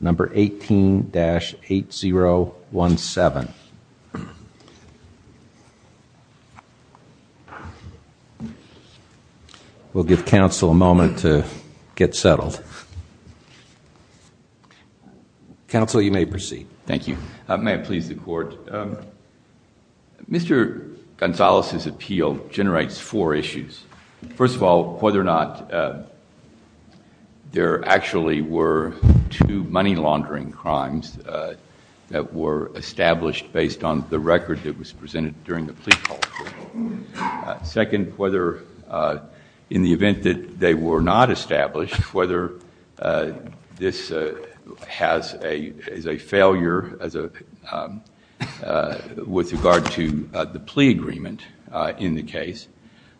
number 18-8017. We'll give Council a moment to get settled. Council, you may proceed. Thank you. May it please the Court. Mr. Gonzales' appeal generates four were two money laundering crimes that were established based on the record that was presented during the plea process. Second, whether in the event that they were not established, whether this is a failure with regard to the plea agreement in the case,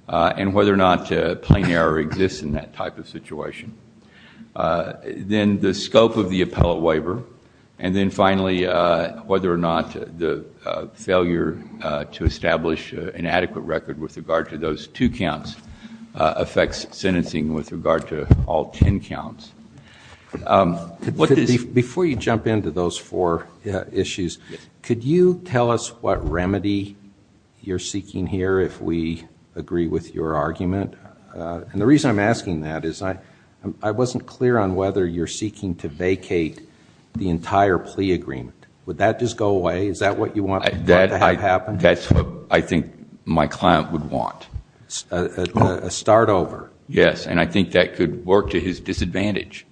and whether or not there exists in that type of situation. Then the scope of the appellate waiver. And then finally, whether or not the failure to establish an adequate record with regard to those two counts affects sentencing with regard to all ten counts. Before you jump into those four issues, could you tell us what remedy you're seeking here if we agree with your The reason I'm asking that is I wasn't clear on whether you're seeking to vacate the entire plea agreement. Would that just go away? Is that what you want to happen? That's what I think my client would want. A start over? Yes. And I think that could work to his disadvantage,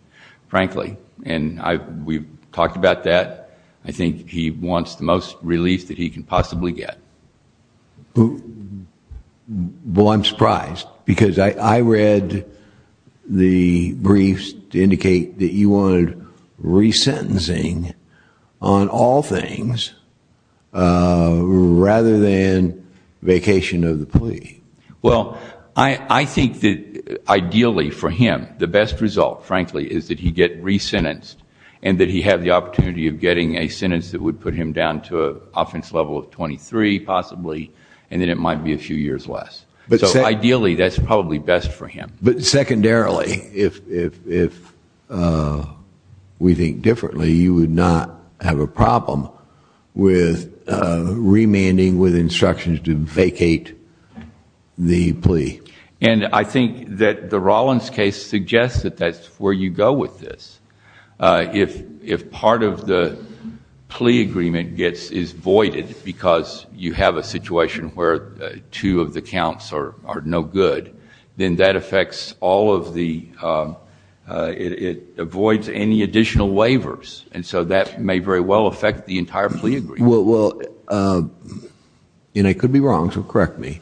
frankly. And we've talked about that. I think he wants the most relief that he can possibly get. Well, I'm surprised. Because I read the briefs to indicate that you wanted resentencing on all things rather than vacation of the plea. Well, I think that ideally for him, the best result, frankly, is that he get resentenced and that he have the opportunity of getting a sentence that would put him down to an offense level of 23, possibly, and then it might be a few years less. So ideally, that's probably best for him. But secondarily, if we think differently, you would not have a problem with remanding with instructions to vacate the plea. And I think that the Rollins case suggests that that's where you go with this. If part of the plea agreement is voided because you have a situation where two of the counts are no good, then that affects all of the, it avoids any additional waivers. And so that may very well affect the entire plea agreement. Well, and I could be wrong, so correct me.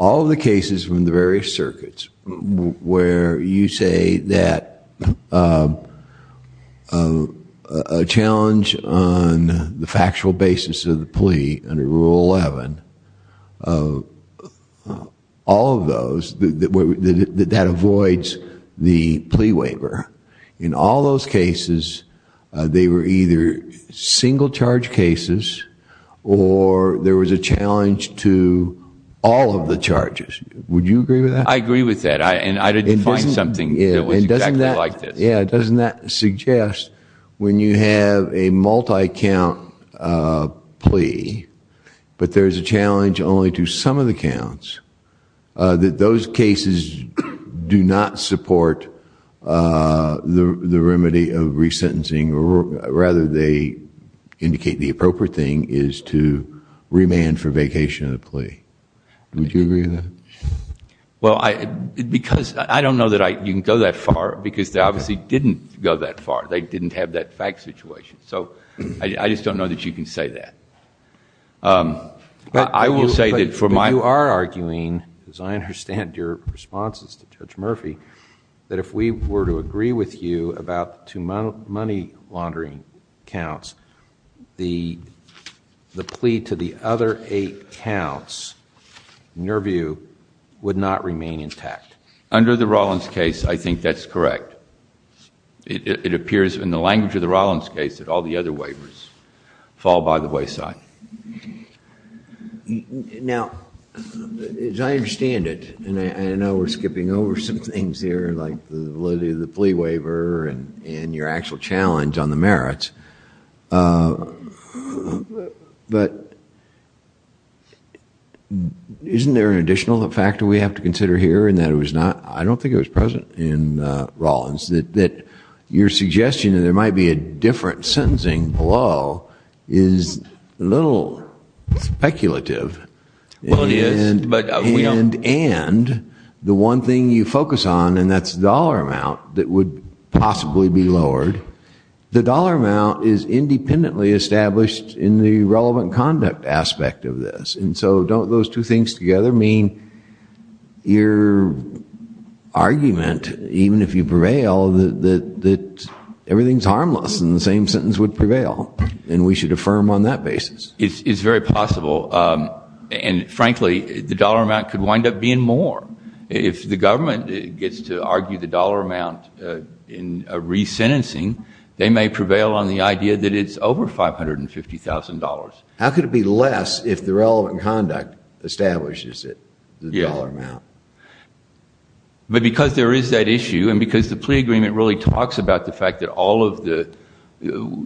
All of the cases from the various circuits where you say that a challenge on the factual basis of the plea under Rule 11, all of those, that avoids the plea waiver, in all those cases, they were either single charge cases or there was a challenge to all of the charges. Would you agree with that? I agree with that. And I didn't find something that was exactly like this. Yeah, doesn't that suggest when you have a multi-count plea, but there's a challenge only to some of the counts, that those cases do not support the remedy of resentencing. Rather, they indicate the appropriate thing is to remand for vacation of the plea. Would you agree with that? Well, because I don't know that you can go that far, because they obviously didn't go that far. They didn't have that fact situation. So I just don't know that you can say that. But you are arguing, as I understand your responses to Judge Murphy, that if we were to agree with you about two money laundering counts, the plea to the other eight counts, in your view, would not remain intact. Under the Rollins case, I think that's correct. It appears in the language of the Rollins case that all the other waivers fall by the wayside. Now, as I understand it, and I know we're skipping over some things here, like the validity of the plea waiver and your actual challenge on the merits, but isn't there an additional factor we have to consider here in that it was not, I don't think it was present in Rollins, that your suggestion that there might be a different sentencing below is a little speculative. Well, it is, but we don't. And the one thing you focus on, and that's the dollar amount that would possibly be lowered, the dollar amount is independently established in the relevant conduct aspect of this. And so don't those two things together mean your argument, even if you prevail, that everything's harmless and the same sentence would prevail and we should affirm on that basis? It's very possible. And frankly, the dollar amount could wind up being more. If the government gets to argue the dollar amount in resentencing, they may prevail on the idea that it's over $550,000. How could it be less if the relevant conduct establishes it, the dollar amount? But because there is that issue, and because the plea agreement really talks about the fact that all of the,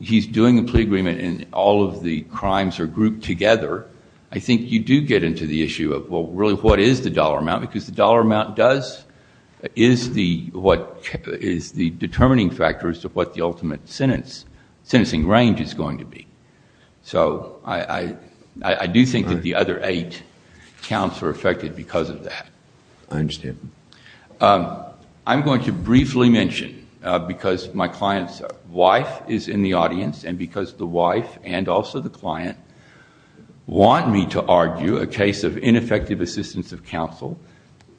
he's doing the plea agreement and all of the crimes are grouped together, I think you do get into the issue of, well, really, what is the dollar amount? Because the dollar amount does, is the determining factor as to what the ultimate sentencing range is going to be. So I do think that the other eight counts are affected because of that. I understand. I'm going to briefly mention, because my client's wife is in the audience, and because the wife and also the client want me to argue a case of ineffective assistance of counsel,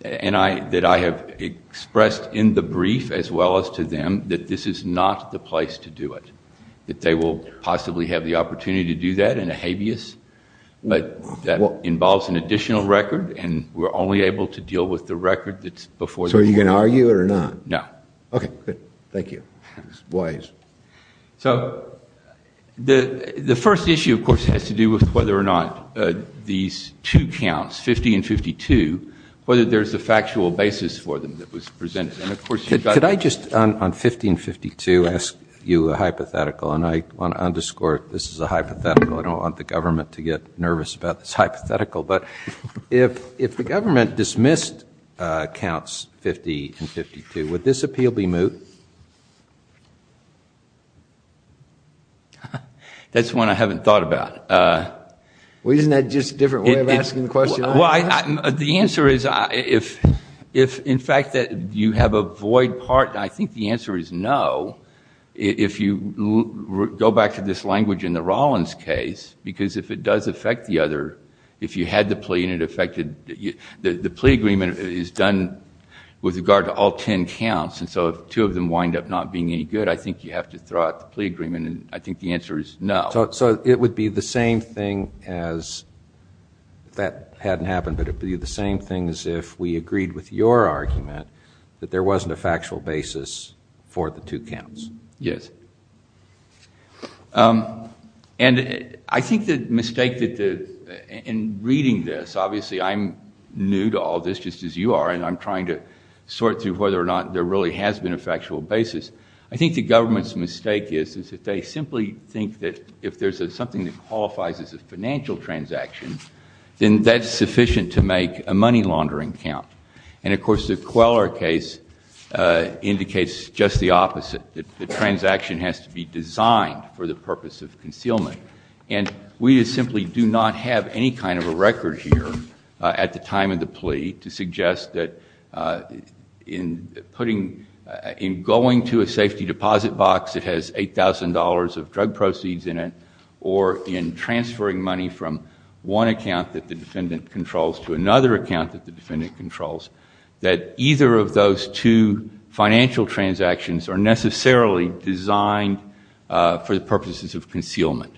that I have expressed in the brief as well as to them that this is not the place to do it, that they will possibly have the opportunity to do that in a habeas that involves an additional record, and we're only able to deal with the record that's before the court. So are you going to argue it or not? No. Okay, good. Thank you. Wise. So the first issue, of course, has to do with whether or not these two counts, 50 and 52, whether there's a factual basis for them that was presented. And of course, you've got to- Could I just, on 50 and 52, ask you a hypothetical? And I want to underscore, this is a hypothetical. I don't want the government to get nervous about this hypothetical, but if the government dismissed counts 50 and 52, would this appeal be moot? That's one I haven't thought about. Well, isn't that just a different way of asking the question? Well, the answer is, if in fact that you have a void part, I think the answer is no. If you go back to this language in the Rollins case, because if it does affect the other, if you had the plea and it affected, the plea agreement is done with regard to all 10 counts. And so if two of them wind up not being any good, I think you have to throw out the plea agreement. And I think the answer is no. So it would be the same thing as, if that hadn't happened, but it'd be the same thing as if we agreed with your argument that there wasn't a factual basis for the two counts. Yes. And I think the mistake in reading this, obviously I'm new to all this, just as you are, and I'm trying to sort through whether or not there really has been a factual basis. I think the government's mistake is that they simply think that if there's something that qualifies as a financial transaction, then that's sufficient to make a money laundering count. And of course, the Queller case indicates just the opposite. The transaction has to be designed for the purpose of concealment. And we simply do not have any kind of a record here at the time of the plea to suggest that in going to a safety deposit box that has $8,000 of drug proceeds in it, or in transferring money from one account that the defendant controls to another account that the defendant controls, that either of those two financial transactions are necessarily designed for the purposes of concealment.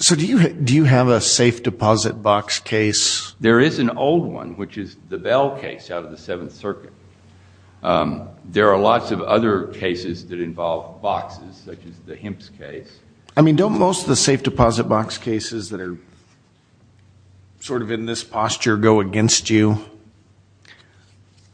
So do you have a safe deposit box case? There is an old one, which is the Bell case out of the Seventh Circuit. There are lots of other cases that involve boxes, such as the Himps case. I mean, don't most of the safe deposit box cases that are sort of in this posture go against you?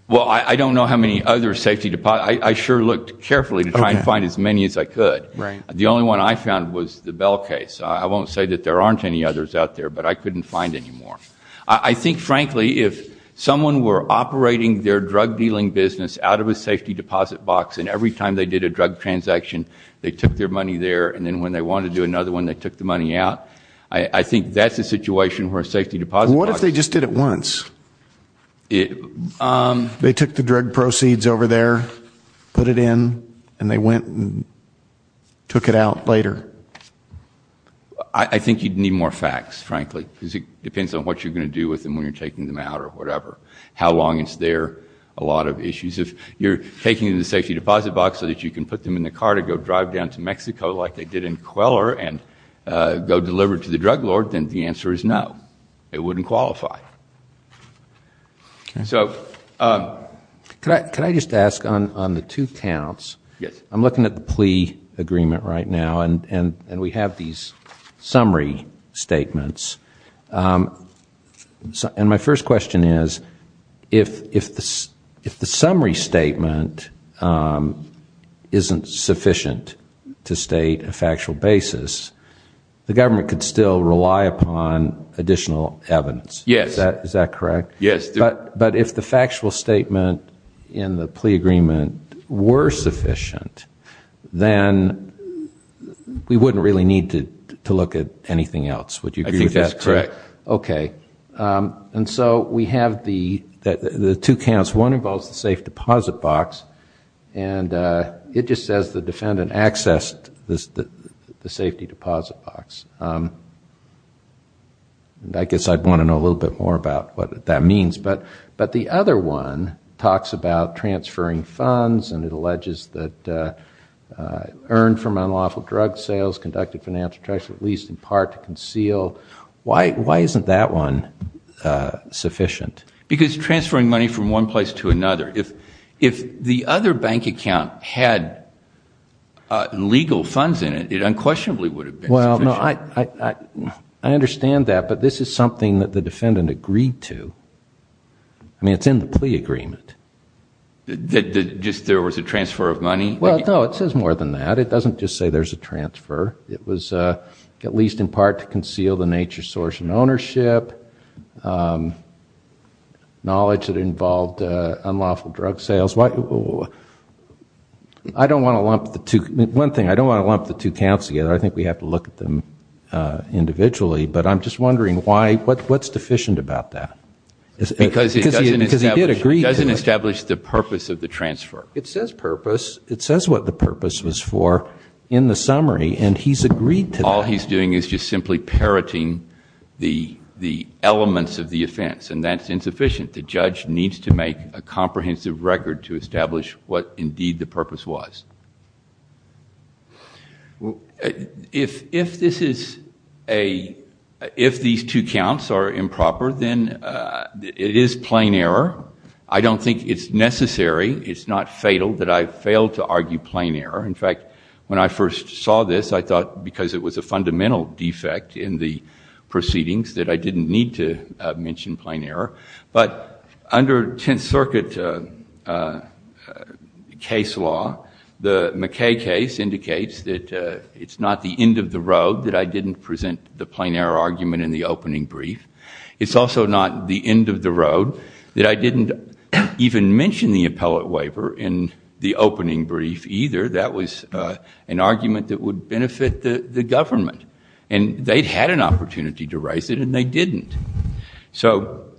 Well, I don't know how many other safety deposit boxes. I sure looked carefully to try and find as many as I could. The only one I found was the Bell case. I won't say that there aren't any others out there, but I couldn't find any more. I think, frankly, if someone were operating their drug dealing business out of a safety deposit box, and every time they did a drug transaction, they took their money there, and then when they wanted to do another one, they took the money out, I think that's a What if they just did it once? They took the drug proceeds over there, put it in, and they went and took it out later? I think you'd need more facts, frankly, because it depends on what you're going to do with them when you're taking them out or whatever. How long it's there, a lot of issues. If you're taking the safety deposit box so that you can put them in the car to go drive down to Mexico like they did in Queller and go deliver it to the drug lord, then the answer is no. It wouldn't qualify. So, could I just ask on the two counts? Yes. I'm looking at the plea agreement right now, and we have these summary statements. And my first question is, if the summary statement isn't sufficient to state a factual basis, the government could still rely upon additional evidence. Yes. Is that correct? Yes. But if the factual statement in the plea agreement were sufficient, then we wouldn't really need to look at anything else. Would you agree with that? I think that's correct. Okay. And so we have the two counts. One involves the safe deposit box, and it just says the defendant accessed the safety deposit box. I guess I'd want to know a little bit more about what that means. But the other one talks about transferring funds, and it alleges that earned from unlawful drug sales conducted financial treachery, at least in part, to conceal. Why isn't that one sufficient? Because transferring money from one place to another. If the other bank account had legal funds in it, it unquestionably would have been sufficient. Well, no, I understand that, but this is something that the defendant agreed to. I mean, it's in the plea agreement. Just there was a transfer of money? Well, no, it says more than that. It doesn't just say there's a transfer. It was, at least in part, to conceal the nature, source, and ownership, knowledge that involved unlawful drug sales. I don't want to lump the two. One thing, I don't want to lump the two counts together. I think we have to look at them individually. But I'm just wondering, what's deficient about that? Because it doesn't establish the purpose of the transfer. It says purpose. It says what the purpose was for in the summary, and he's agreed to that. What he's doing is just simply parroting the elements of the offense, and that's insufficient. The judge needs to make a comprehensive record to establish what, indeed, the purpose was. If these two counts are improper, then it is plain error. I don't think it's necessary. It's not fatal that I failed to argue plain error. In fact, when I first saw this, I thought because it was a fundamental defect in the proceedings that I didn't need to mention plain error. But under Tenth Circuit case law, the McKay case indicates that it's not the end of the road that I didn't present the plain error argument in the opening brief. It's also not the end of the road that I didn't even mention the appellate waiver in the opening brief either. That was an argument that would benefit the government, and they'd had an opportunity to raise it, and they didn't. So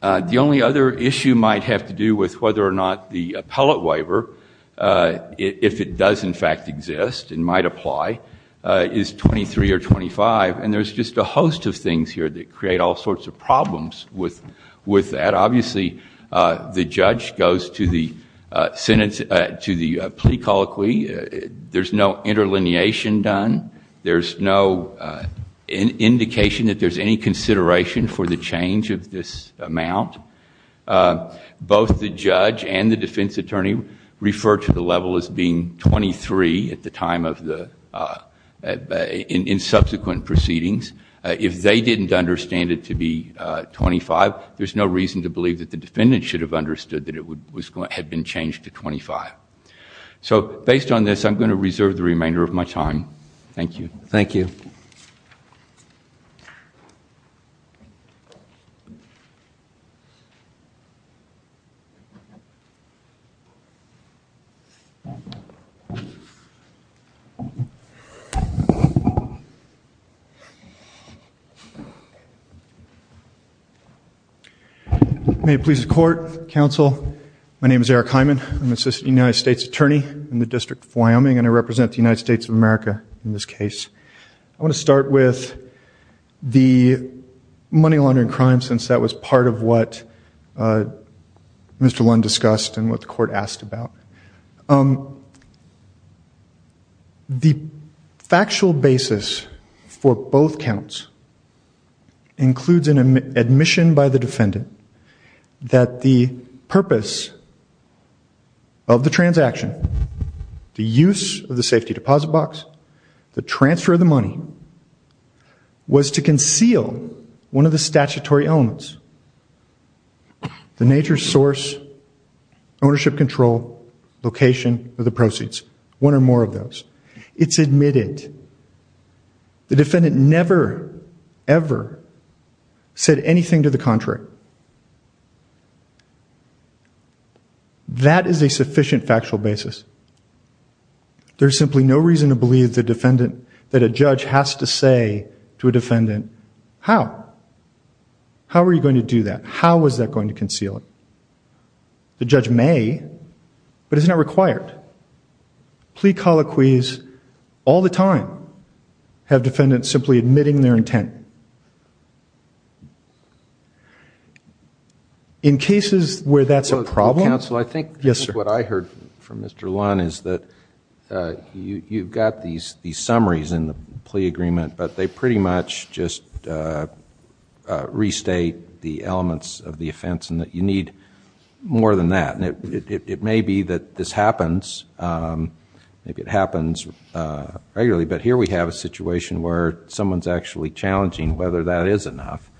the only other issue might have to do with whether or not the appellate waiver, if it does, in fact, exist and might apply, is 23 or 25, and there's just a host of things here that create all sorts of problems with that. Obviously, the judge goes to the plea colloquy. There's no interlineation done. There's no indication that there's any consideration for the change of this amount. Both the judge and the defense attorney refer to the level as being 23 at the time of the in subsequent proceedings. If they didn't understand it to be 25, there's no reason to believe that the defendant should have understood that it had been changed to 25. So based on this, I'm going to reserve the remainder of my time. Thank you. Thank you. May it please the court, counsel, my name is Eric Hyman. I'm an assistant United States attorney in the District of Wyoming, and I represent the United States of America in this case. I want to start with the money laundering crime, since that was part of what Mr. Lund discussed and what the court asked about. Um, the factual basis for both counts includes an admission by the defendant that the purpose of the transaction, the use of the safety deposit box, the transfer of the money was to conceal one of the statutory elements. The nature, source, ownership control, location of the proceeds, one or more of those. It's admitted. The defendant never, ever said anything to the contrary. That is a sufficient factual basis. There's simply no reason to believe the defendant, that a judge has to say to a defendant, how? How are you going to do that? How is that going to conceal it? The judge may, but it's not required. Plea colloquies all the time have defendants simply admitting their intent. In cases where that's a problem... Counsel, I think... Yes, sir. What I heard from Mr. Lund is that you've got these summaries in the plea agreement, but they pretty much just restate the elements of the offense and that you need more than that. And it may be that this happens. Maybe it happens regularly, but here we have a situation where someone's actually challenging whether that is enough.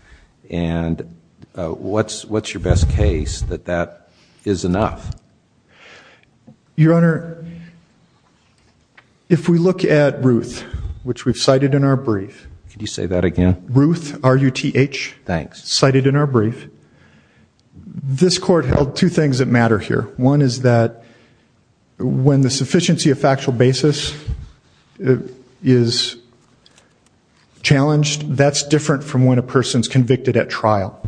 And what's your best case that that is enough? Your Honor, if we look at Ruth, which we've cited in our brief... Could you say that again? Ruth, R-U-T-H... Thanks. Cited in our brief, this court held two things that matter here. One is that when the sufficiency of factual basis is challenged, that's different from when a person's convicted at trial,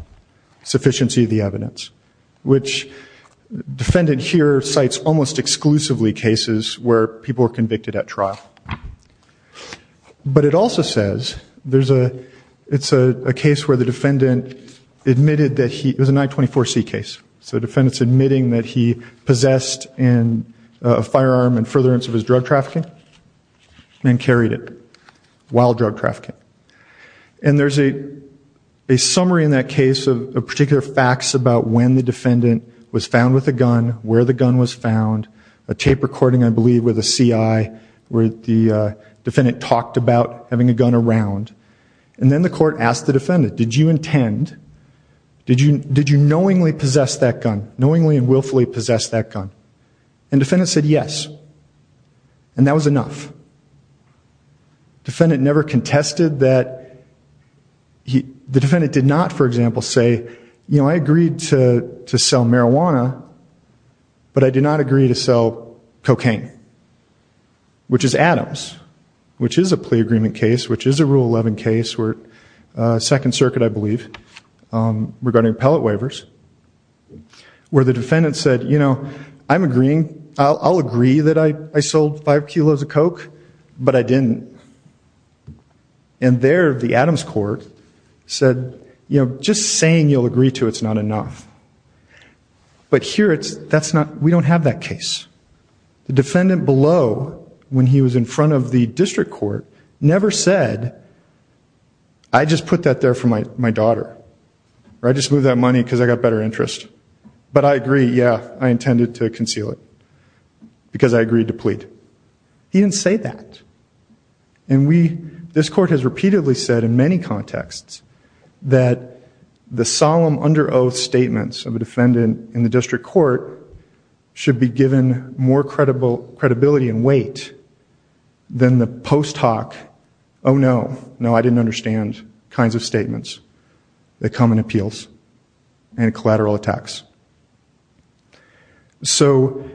sufficiency of the evidence. Which defendant here cites almost exclusively cases where people are convicted at trial. But it also says there's a... it's a case where the defendant admitted that he... It was an I-24C case. So the defendant's admitting that he possessed a firearm in furtherance of his drug trafficking and carried it while drug trafficking. And there's a summary in that case of particular facts about when the defendant was found with a gun, where the gun was found, a tape recording, I believe, with a CI where the defendant talked about having a gun around. And then the court asked the defendant, did you intend... did you knowingly possess that gun, knowingly and willfully possess that gun? And defendant said, yes. And that was enough. The defendant never contested that... the defendant did not, for example, say, you know, I agreed to sell marijuana, but I did not agree to sell cocaine, which is Adams, which is a plea agreement case, which is a Rule 11 case, Second Circuit, I believe, regarding appellate waivers, where the defendant said, you know, I'm agreeing, I'll agree that I but I didn't. And there, the Adams court said, you know, just saying you'll agree to it's not enough. But here it's... that's not... we don't have that case. The defendant below, when he was in front of the district court, never said, I just put that there for my daughter, or I just moved that money because I got better interest. But I agree, yeah, I intended to conceal it because I agreed to plead. He didn't say that. And we... this court has repeatedly said in many contexts that the solemn under oath statements of a defendant in the district court should be given more credibility and weight than the post hoc, oh no, no, I didn't understand kinds of statements that come in appeals and collateral attacks. So,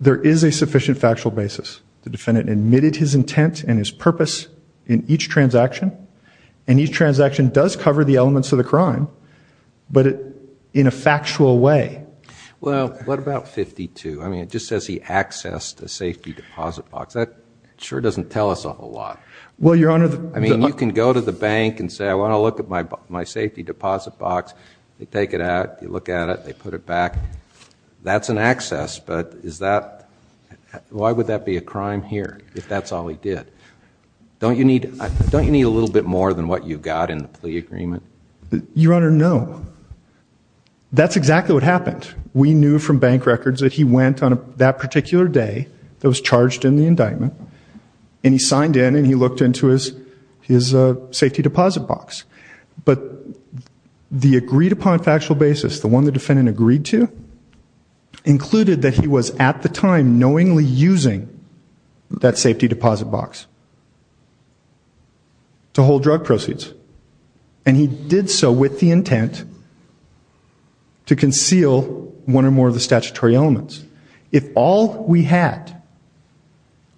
there is a sufficient factual basis. The defendant admitted his intent and his purpose in each transaction, and each transaction does cover the elements of the crime, but in a factual way. Well, what about 52? I mean, it just says he accessed a safety deposit box. That sure doesn't tell us a whole lot. Well, Your Honor... I mean, you can go to the bank and say, I want to look at my safety deposit box. They take it out. You look at it. They put it back. That's an access, but is that... why would that be a crime here if that's all he did? Don't you need a little bit more than what you got in the plea agreement? Your Honor, no. That's exactly what happened. We knew from bank records that he went on that particular day that was charged in the indictment, and he signed in, and he looked into his safety deposit box. But the agreed-upon factual basis, the one the defendant agreed to, included that he was at the time knowingly using that safety deposit box to hold drug proceeds, and he did so with the intent to conceal one or more of the statutory elements. If all we had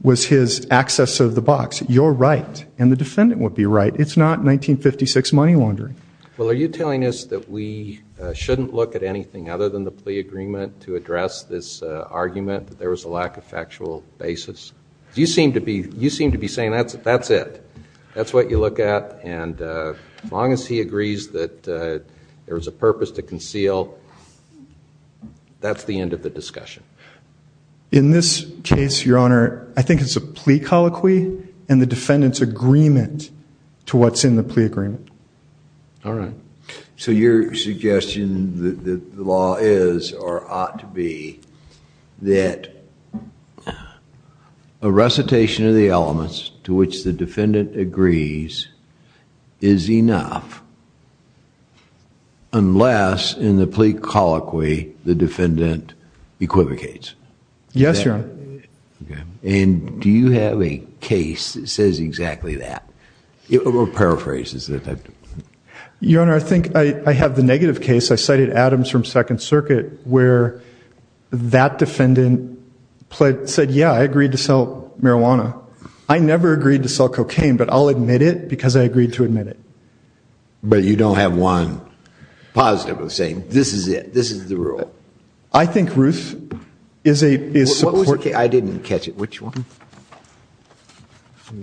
was his access of the box, you're right, and the defendant would be right. It's not 1956 money laundering. Well, are you telling us that we shouldn't look at anything other than the plea agreement to address this argument that there was a lack of factual basis? You seem to be saying that's it. That's what you look at, and as long as he agrees that there was a purpose to conceal, that's the end of the discussion. In this case, Your Honor, I think it's a plea colloquy and the defendant's agreement to what's in the plea agreement. All right. So your suggestion that the law is or ought to be that a recitation of the elements to which the defendant agrees is enough unless in the plea colloquy the defendant equivocates? Yes, Your Honor. And do you have a case that says exactly that? It paraphrases it. Your Honor, I think I have the negative case. I cited Adams from Second Circuit where that defendant said, yeah, I agreed to sell marijuana. I never agreed to sell cocaine, but I'll admit it because I agreed to admit it. But you don't have one positive saying, this is it. This is the rule. I think Ruth is a support case. I didn't catch it. Which one?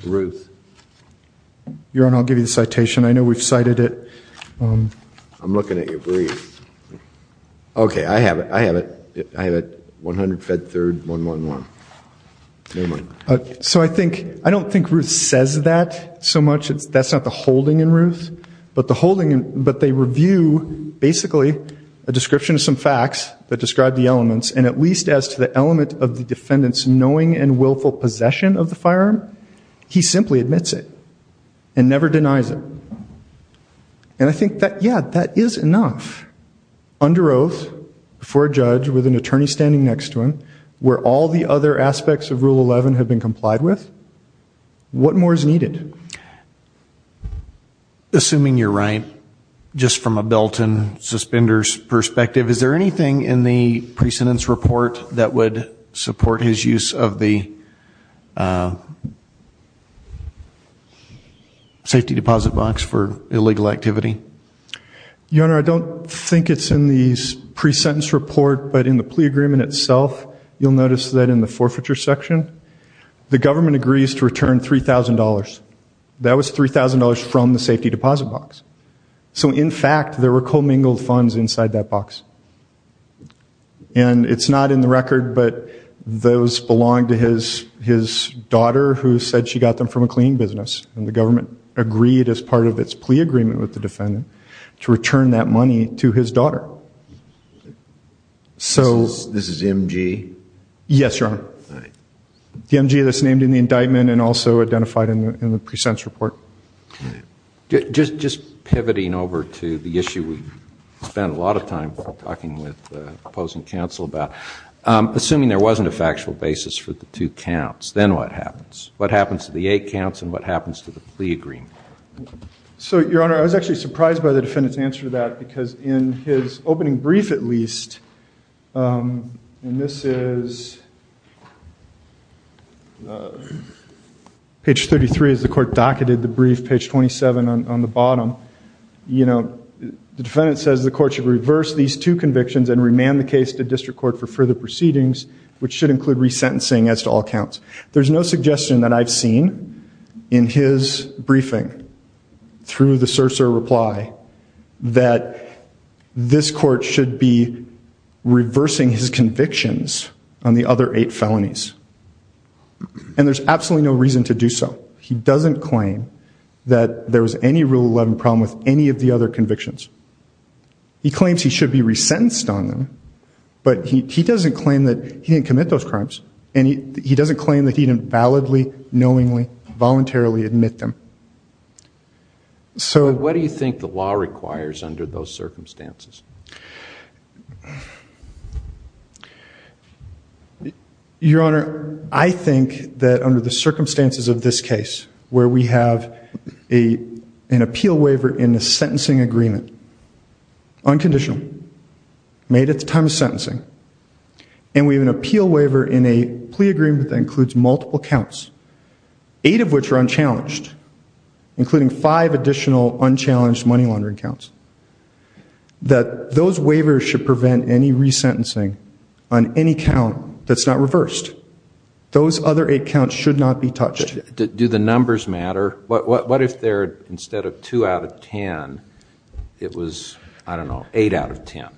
Ruth. Your Honor, I'll give you the citation. I know we've cited it. I'm looking at your brief. OK. I have it. I have it. I have it. 100 Fed Third 111. Never mind. So I don't think Ruth says that so much. That's not the holding in Ruth. But they review basically a description of some facts that describe the elements. And at least as to the element of the defendant's knowing and willful possession of the firearm, he simply admits it. And never denies it. And I think that, yeah, that is enough. Under oath, before a judge, with an attorney standing next to him, where all the other aspects of Rule 11 have been complied with, what more is needed? Assuming you're right, just from a belt and suspenders perspective, is there anything in the precedence report that would support his use of the safety deposit box for illegal activity? Your Honor, I don't think it's in the pre-sentence report. But in the plea agreement itself, you'll notice that in the forfeiture section, the government agrees to return $3,000. That was $3,000 from the safety deposit box. So in fact, there were commingled funds inside that box. And it's not in the record. But those belong to his daughter, who said she got them from a cleaning business. And the government agreed, as part of its plea agreement with the defendant, to return that money to his daughter. So this is MG? Yes, Your Honor. The MG that's named in the indictment and also identified in the pre-sentence report. Just pivoting over to the issue we spent a lot of time talking with the opposing counsel about. Assuming there wasn't a factual basis for the two counts, then what happens? What happens to the eight counts? And what happens to the plea agreement? So Your Honor, I was actually surprised by the defendant's answer to that. Because in his opening brief, at least, and this is page 33 as the court docketed the brief, page 27 on the bottom, the defendant says the court should reverse these two convictions and remand the case to district court for further proceedings, which should include resentencing as to all counts. There's no suggestion that I've seen in his briefing, through the sur-sur reply, that this court should be reversing his convictions on the other eight felonies. And there's absolutely no reason to do so. He doesn't claim that there was any Rule 11 problem with any of the other convictions. He claims he should be resentenced on them. But he doesn't claim that he didn't commit those crimes. And he doesn't claim that he didn't validly, knowingly, voluntarily admit them. So what do you think the law requires under those circumstances? Your Honor, I think that under the circumstances of this case, where we have an appeal waiver in the sentencing agreement, unconditional, made at the time of sentencing, and we have an appeal waiver in a plea agreement that includes multiple counts, eight of which are unchallenged, including five additional unchallenged money laundering counts, that those waivers should prevent any resentencing on any count that's not reversed. Those other eight counts should not be touched. Do the numbers matter? What if there, instead of two out of ten, it was, I don't know, eight out of ten?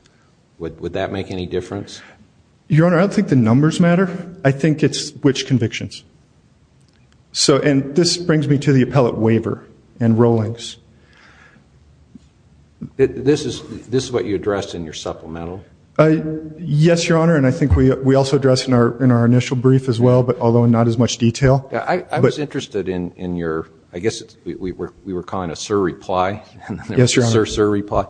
Would that make any difference? Your Honor, I don't think the numbers matter. I think it's which convictions. And this brings me to the appellate waiver and rollings. This is what you addressed in your supplemental? Yes, Your Honor. And I think we also addressed in our initial brief as well, but although not as much detail. I was interested in your, I guess we were calling it a sir reply. Yes, Your Honor. Sir reply.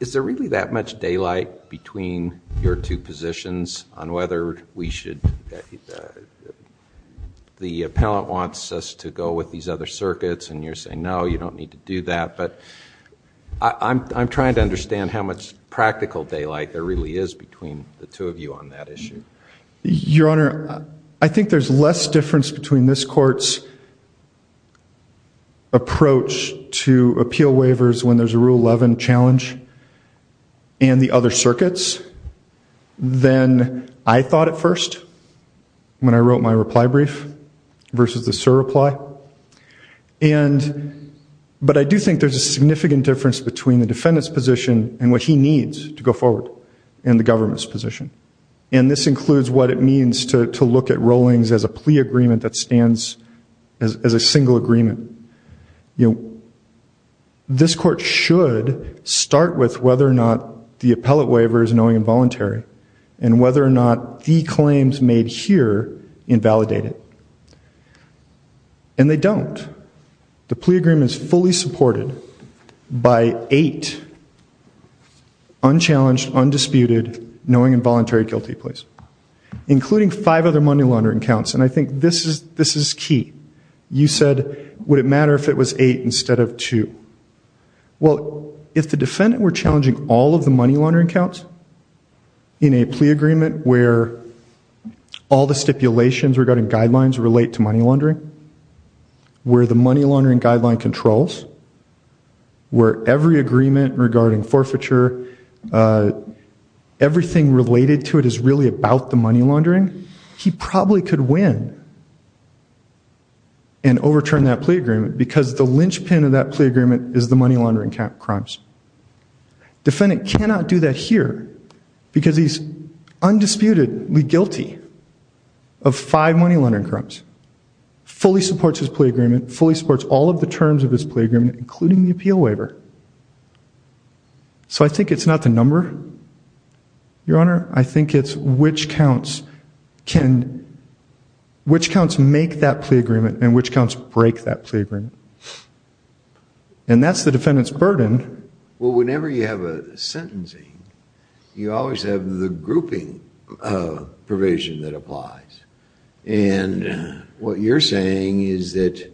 Is there really that much daylight between your two positions on whether we should, the appellant wants us to go with these other circuits, and you're saying no, you don't need to do that. But I'm trying to understand how much practical daylight there really is between the two of you on that issue. Your Honor, I think there's less difference between this court's to appeal waivers when there's a rule 11 challenge and the other circuits than I thought at first when I wrote my reply brief versus the sir reply. But I do think there's a significant difference between the defendant's position and what he needs to go forward in the government's position. And this includes what it means to look at rollings as a plea agreement that stands as a single agreement. This court should start with whether or not the appellate waiver is knowing and voluntary, and whether or not the claims made here invalidate it. And they don't. The plea agreement is fully supported by eight unchallenged, undisputed, knowing and voluntary guilty pleas, including five other money laundering counts. And I think this is key. You said, would it matter if it was eight instead of two? Well, if the defendant were challenging all of the money laundering counts in a plea agreement where all the stipulations regarding guidelines relate to money laundering, where the money laundering guideline controls, where every agreement regarding forfeiture, everything related to it is really about the money laundering, he probably could win and overturn that plea agreement because the linchpin of that plea agreement is the money laundering crimes. Defendant cannot do that here because he's undisputedly guilty of five money laundering crimes, fully supports his plea agreement, fully supports all of the terms of his plea agreement, including the appeal waiver. So I think it's not the number, Your Honor. I think it's which counts make that plea agreement and which counts break that plea agreement. And that's the defendant's burden. Well, whenever you have a sentencing, you always have the grouping provision that applies. And what you're saying is that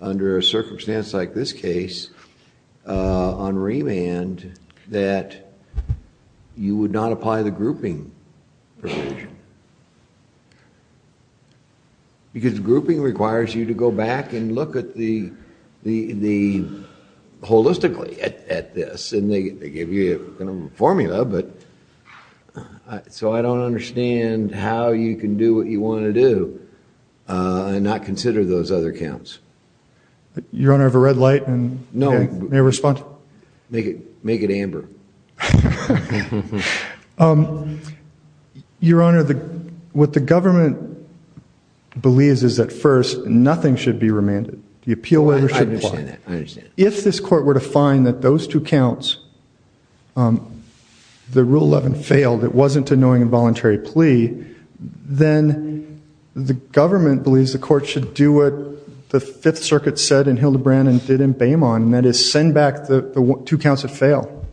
under a circumstance like this case, on remand, that you would not apply the grouping provision. Because grouping requires you to go back and look at the holistically at this and they give you a formula. So I don't understand how you can do what you want to do and not consider those other counts. Your Honor, have a red light and may I respond? Make it amber. Your Honor, what the government believes is that first, nothing should be remanded. The appeal waiver should apply. If this court were to find that those two counts, the Rule 11 failed, it wasn't a knowing involuntary plea, then the government believes the court should do what the Fifth Circuit said in Hildebrand and did in Baymon, and that is send back the two counts that fail.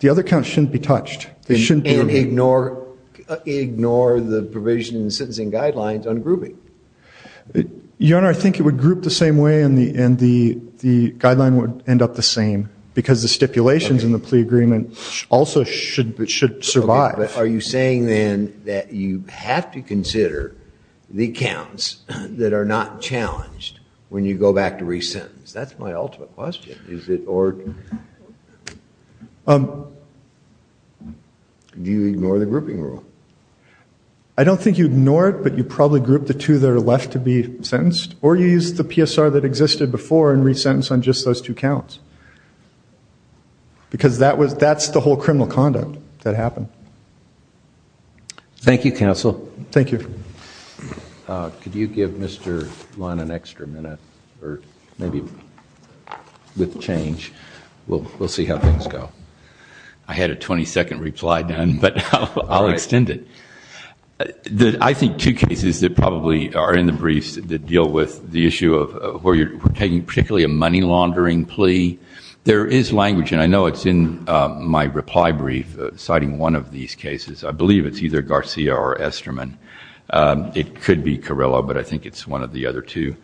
The other counts shouldn't be touched. They shouldn't be remanded. And ignore the provision in the sentencing guidelines on grouping. Your Honor, I think it would group the same way and the guideline would end up the same because the stipulations in the plea agreement also should survive. Are you saying then that you have to consider the counts that are not challenged when you go back to re-sentence? That's my ultimate question. Is it or? Do you ignore the grouping rule? I don't think you ignore it, but you probably group the two that are left to be sentenced or you use the PSR that existed before and re-sentence on just those two counts. Because that's the whole criminal conduct that happened. Thank you, counsel. Thank you. Could you give Mr. Lund an extra minute or maybe with change? We'll see how things go. I had a 20 second reply done, but I'll extend it. I think two cases that probably are in the briefs that deal with the issue of where you're taking particularly a money laundering plea. There is language, and I know it's in my reply brief citing one of these cases. I believe it's either Garcia or Esterman. It could be Carrillo, but I think it's one of the other two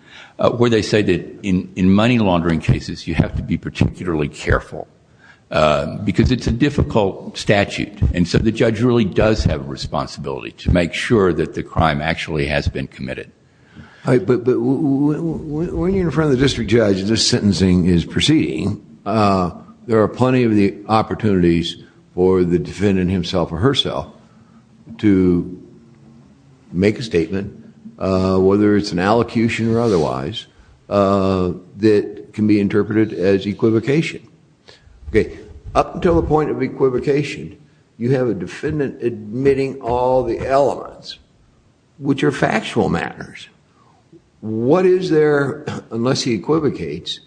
where they say that in money laundering cases, you have to be particularly careful because it's a difficult statute. And so the judge really does have a responsibility to make sure that the crime actually has been committed. But when you're in front of the district judge and this sentencing is proceeding, there are plenty of the opportunities for the defendant himself or herself to make a statement, whether it's an allocution or otherwise, that can be interpreted as equivocation. Up until the point of equivocation, you have a defendant admitting all the elements which are factual matters. What is there, unless he equivocates,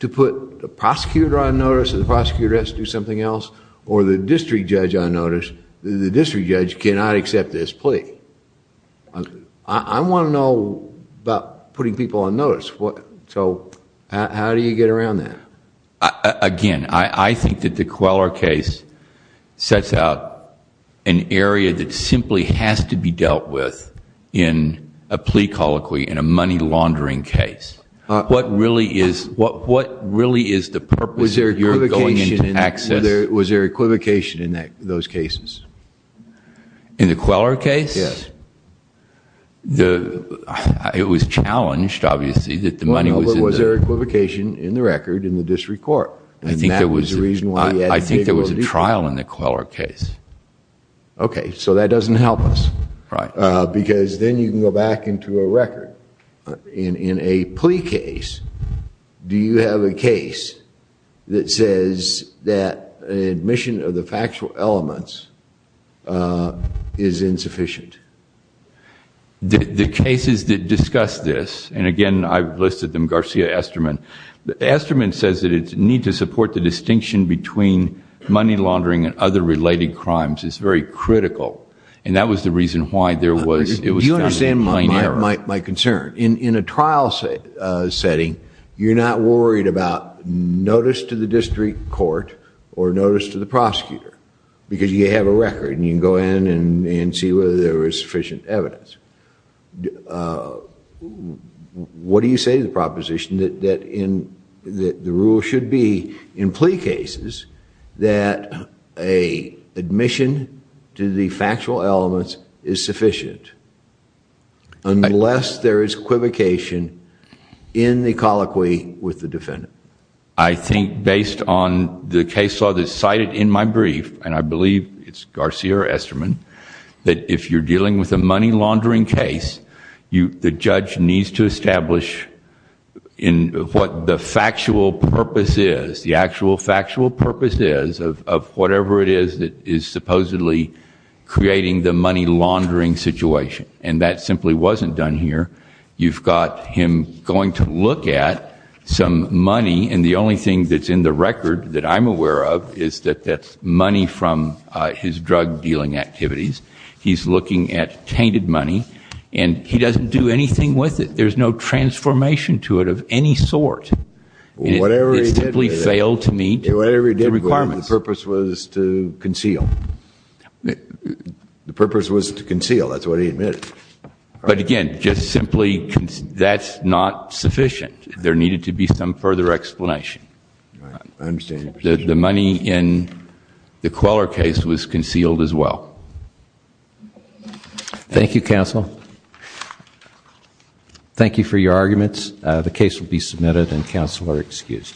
to put the prosecutor on notice and the prosecutor has to do something else or the district judge on notice. The district judge cannot accept this plea. I want to know about putting people on notice. So how do you get around that? Again, I think that the Queller case sets out an area that simply has to be dealt with in a plea colloquy, in a money laundering case. What really is the purpose of going into access? Was there equivocation in those cases? In the Queller case? Yes. It was challenged, obviously, that the money was in the... Was there equivocation in the record in the district court? I think there was a trial in the Queller case. Okay, so that doesn't help us. Right. Because then you can go back into a record. In a plea case, do you have a case that says that admission of the factual elements is insufficient? The cases that discuss this, and again, I've listed them, Garcia-Esterman. Esterman says that it's need to support the distinction between money laundering and other related crimes. It's very critical. And that was the reason why there was... Do you understand my concern? In a trial setting, you're not worried about notice to the district court or notice to the prosecutor because you have a record and you can go in and see whether there is sufficient evidence. What do you say to the proposition that the rule should be in plea cases that a admission to the factual elements is sufficient unless there is equivocation in the colloquy with the defendant? I think based on the case law that's cited in my brief, and I believe it's Garcia-Esterman, that if you're dealing with a money laundering case, the judge needs to establish what the factual purpose is, the actual factual purpose is of whatever it is that is supposedly creating the money laundering situation. And that simply wasn't done here. You've got him going to look at some money, and the only thing that's in the record that I'm aware of is that that's money from his drug dealing activities. He's looking at tainted money, and he doesn't do anything with it. There's no transformation to it of any sort. Whatever he did with it, the purpose was to conceal. The purpose was to conceal, that's what he admitted. But again, just simply, that's not sufficient. There needed to be some further explanation. The money in the Queller case was concealed as well. Thank you, counsel. Thank you for your arguments. The case will be submitted, and counsel are excused.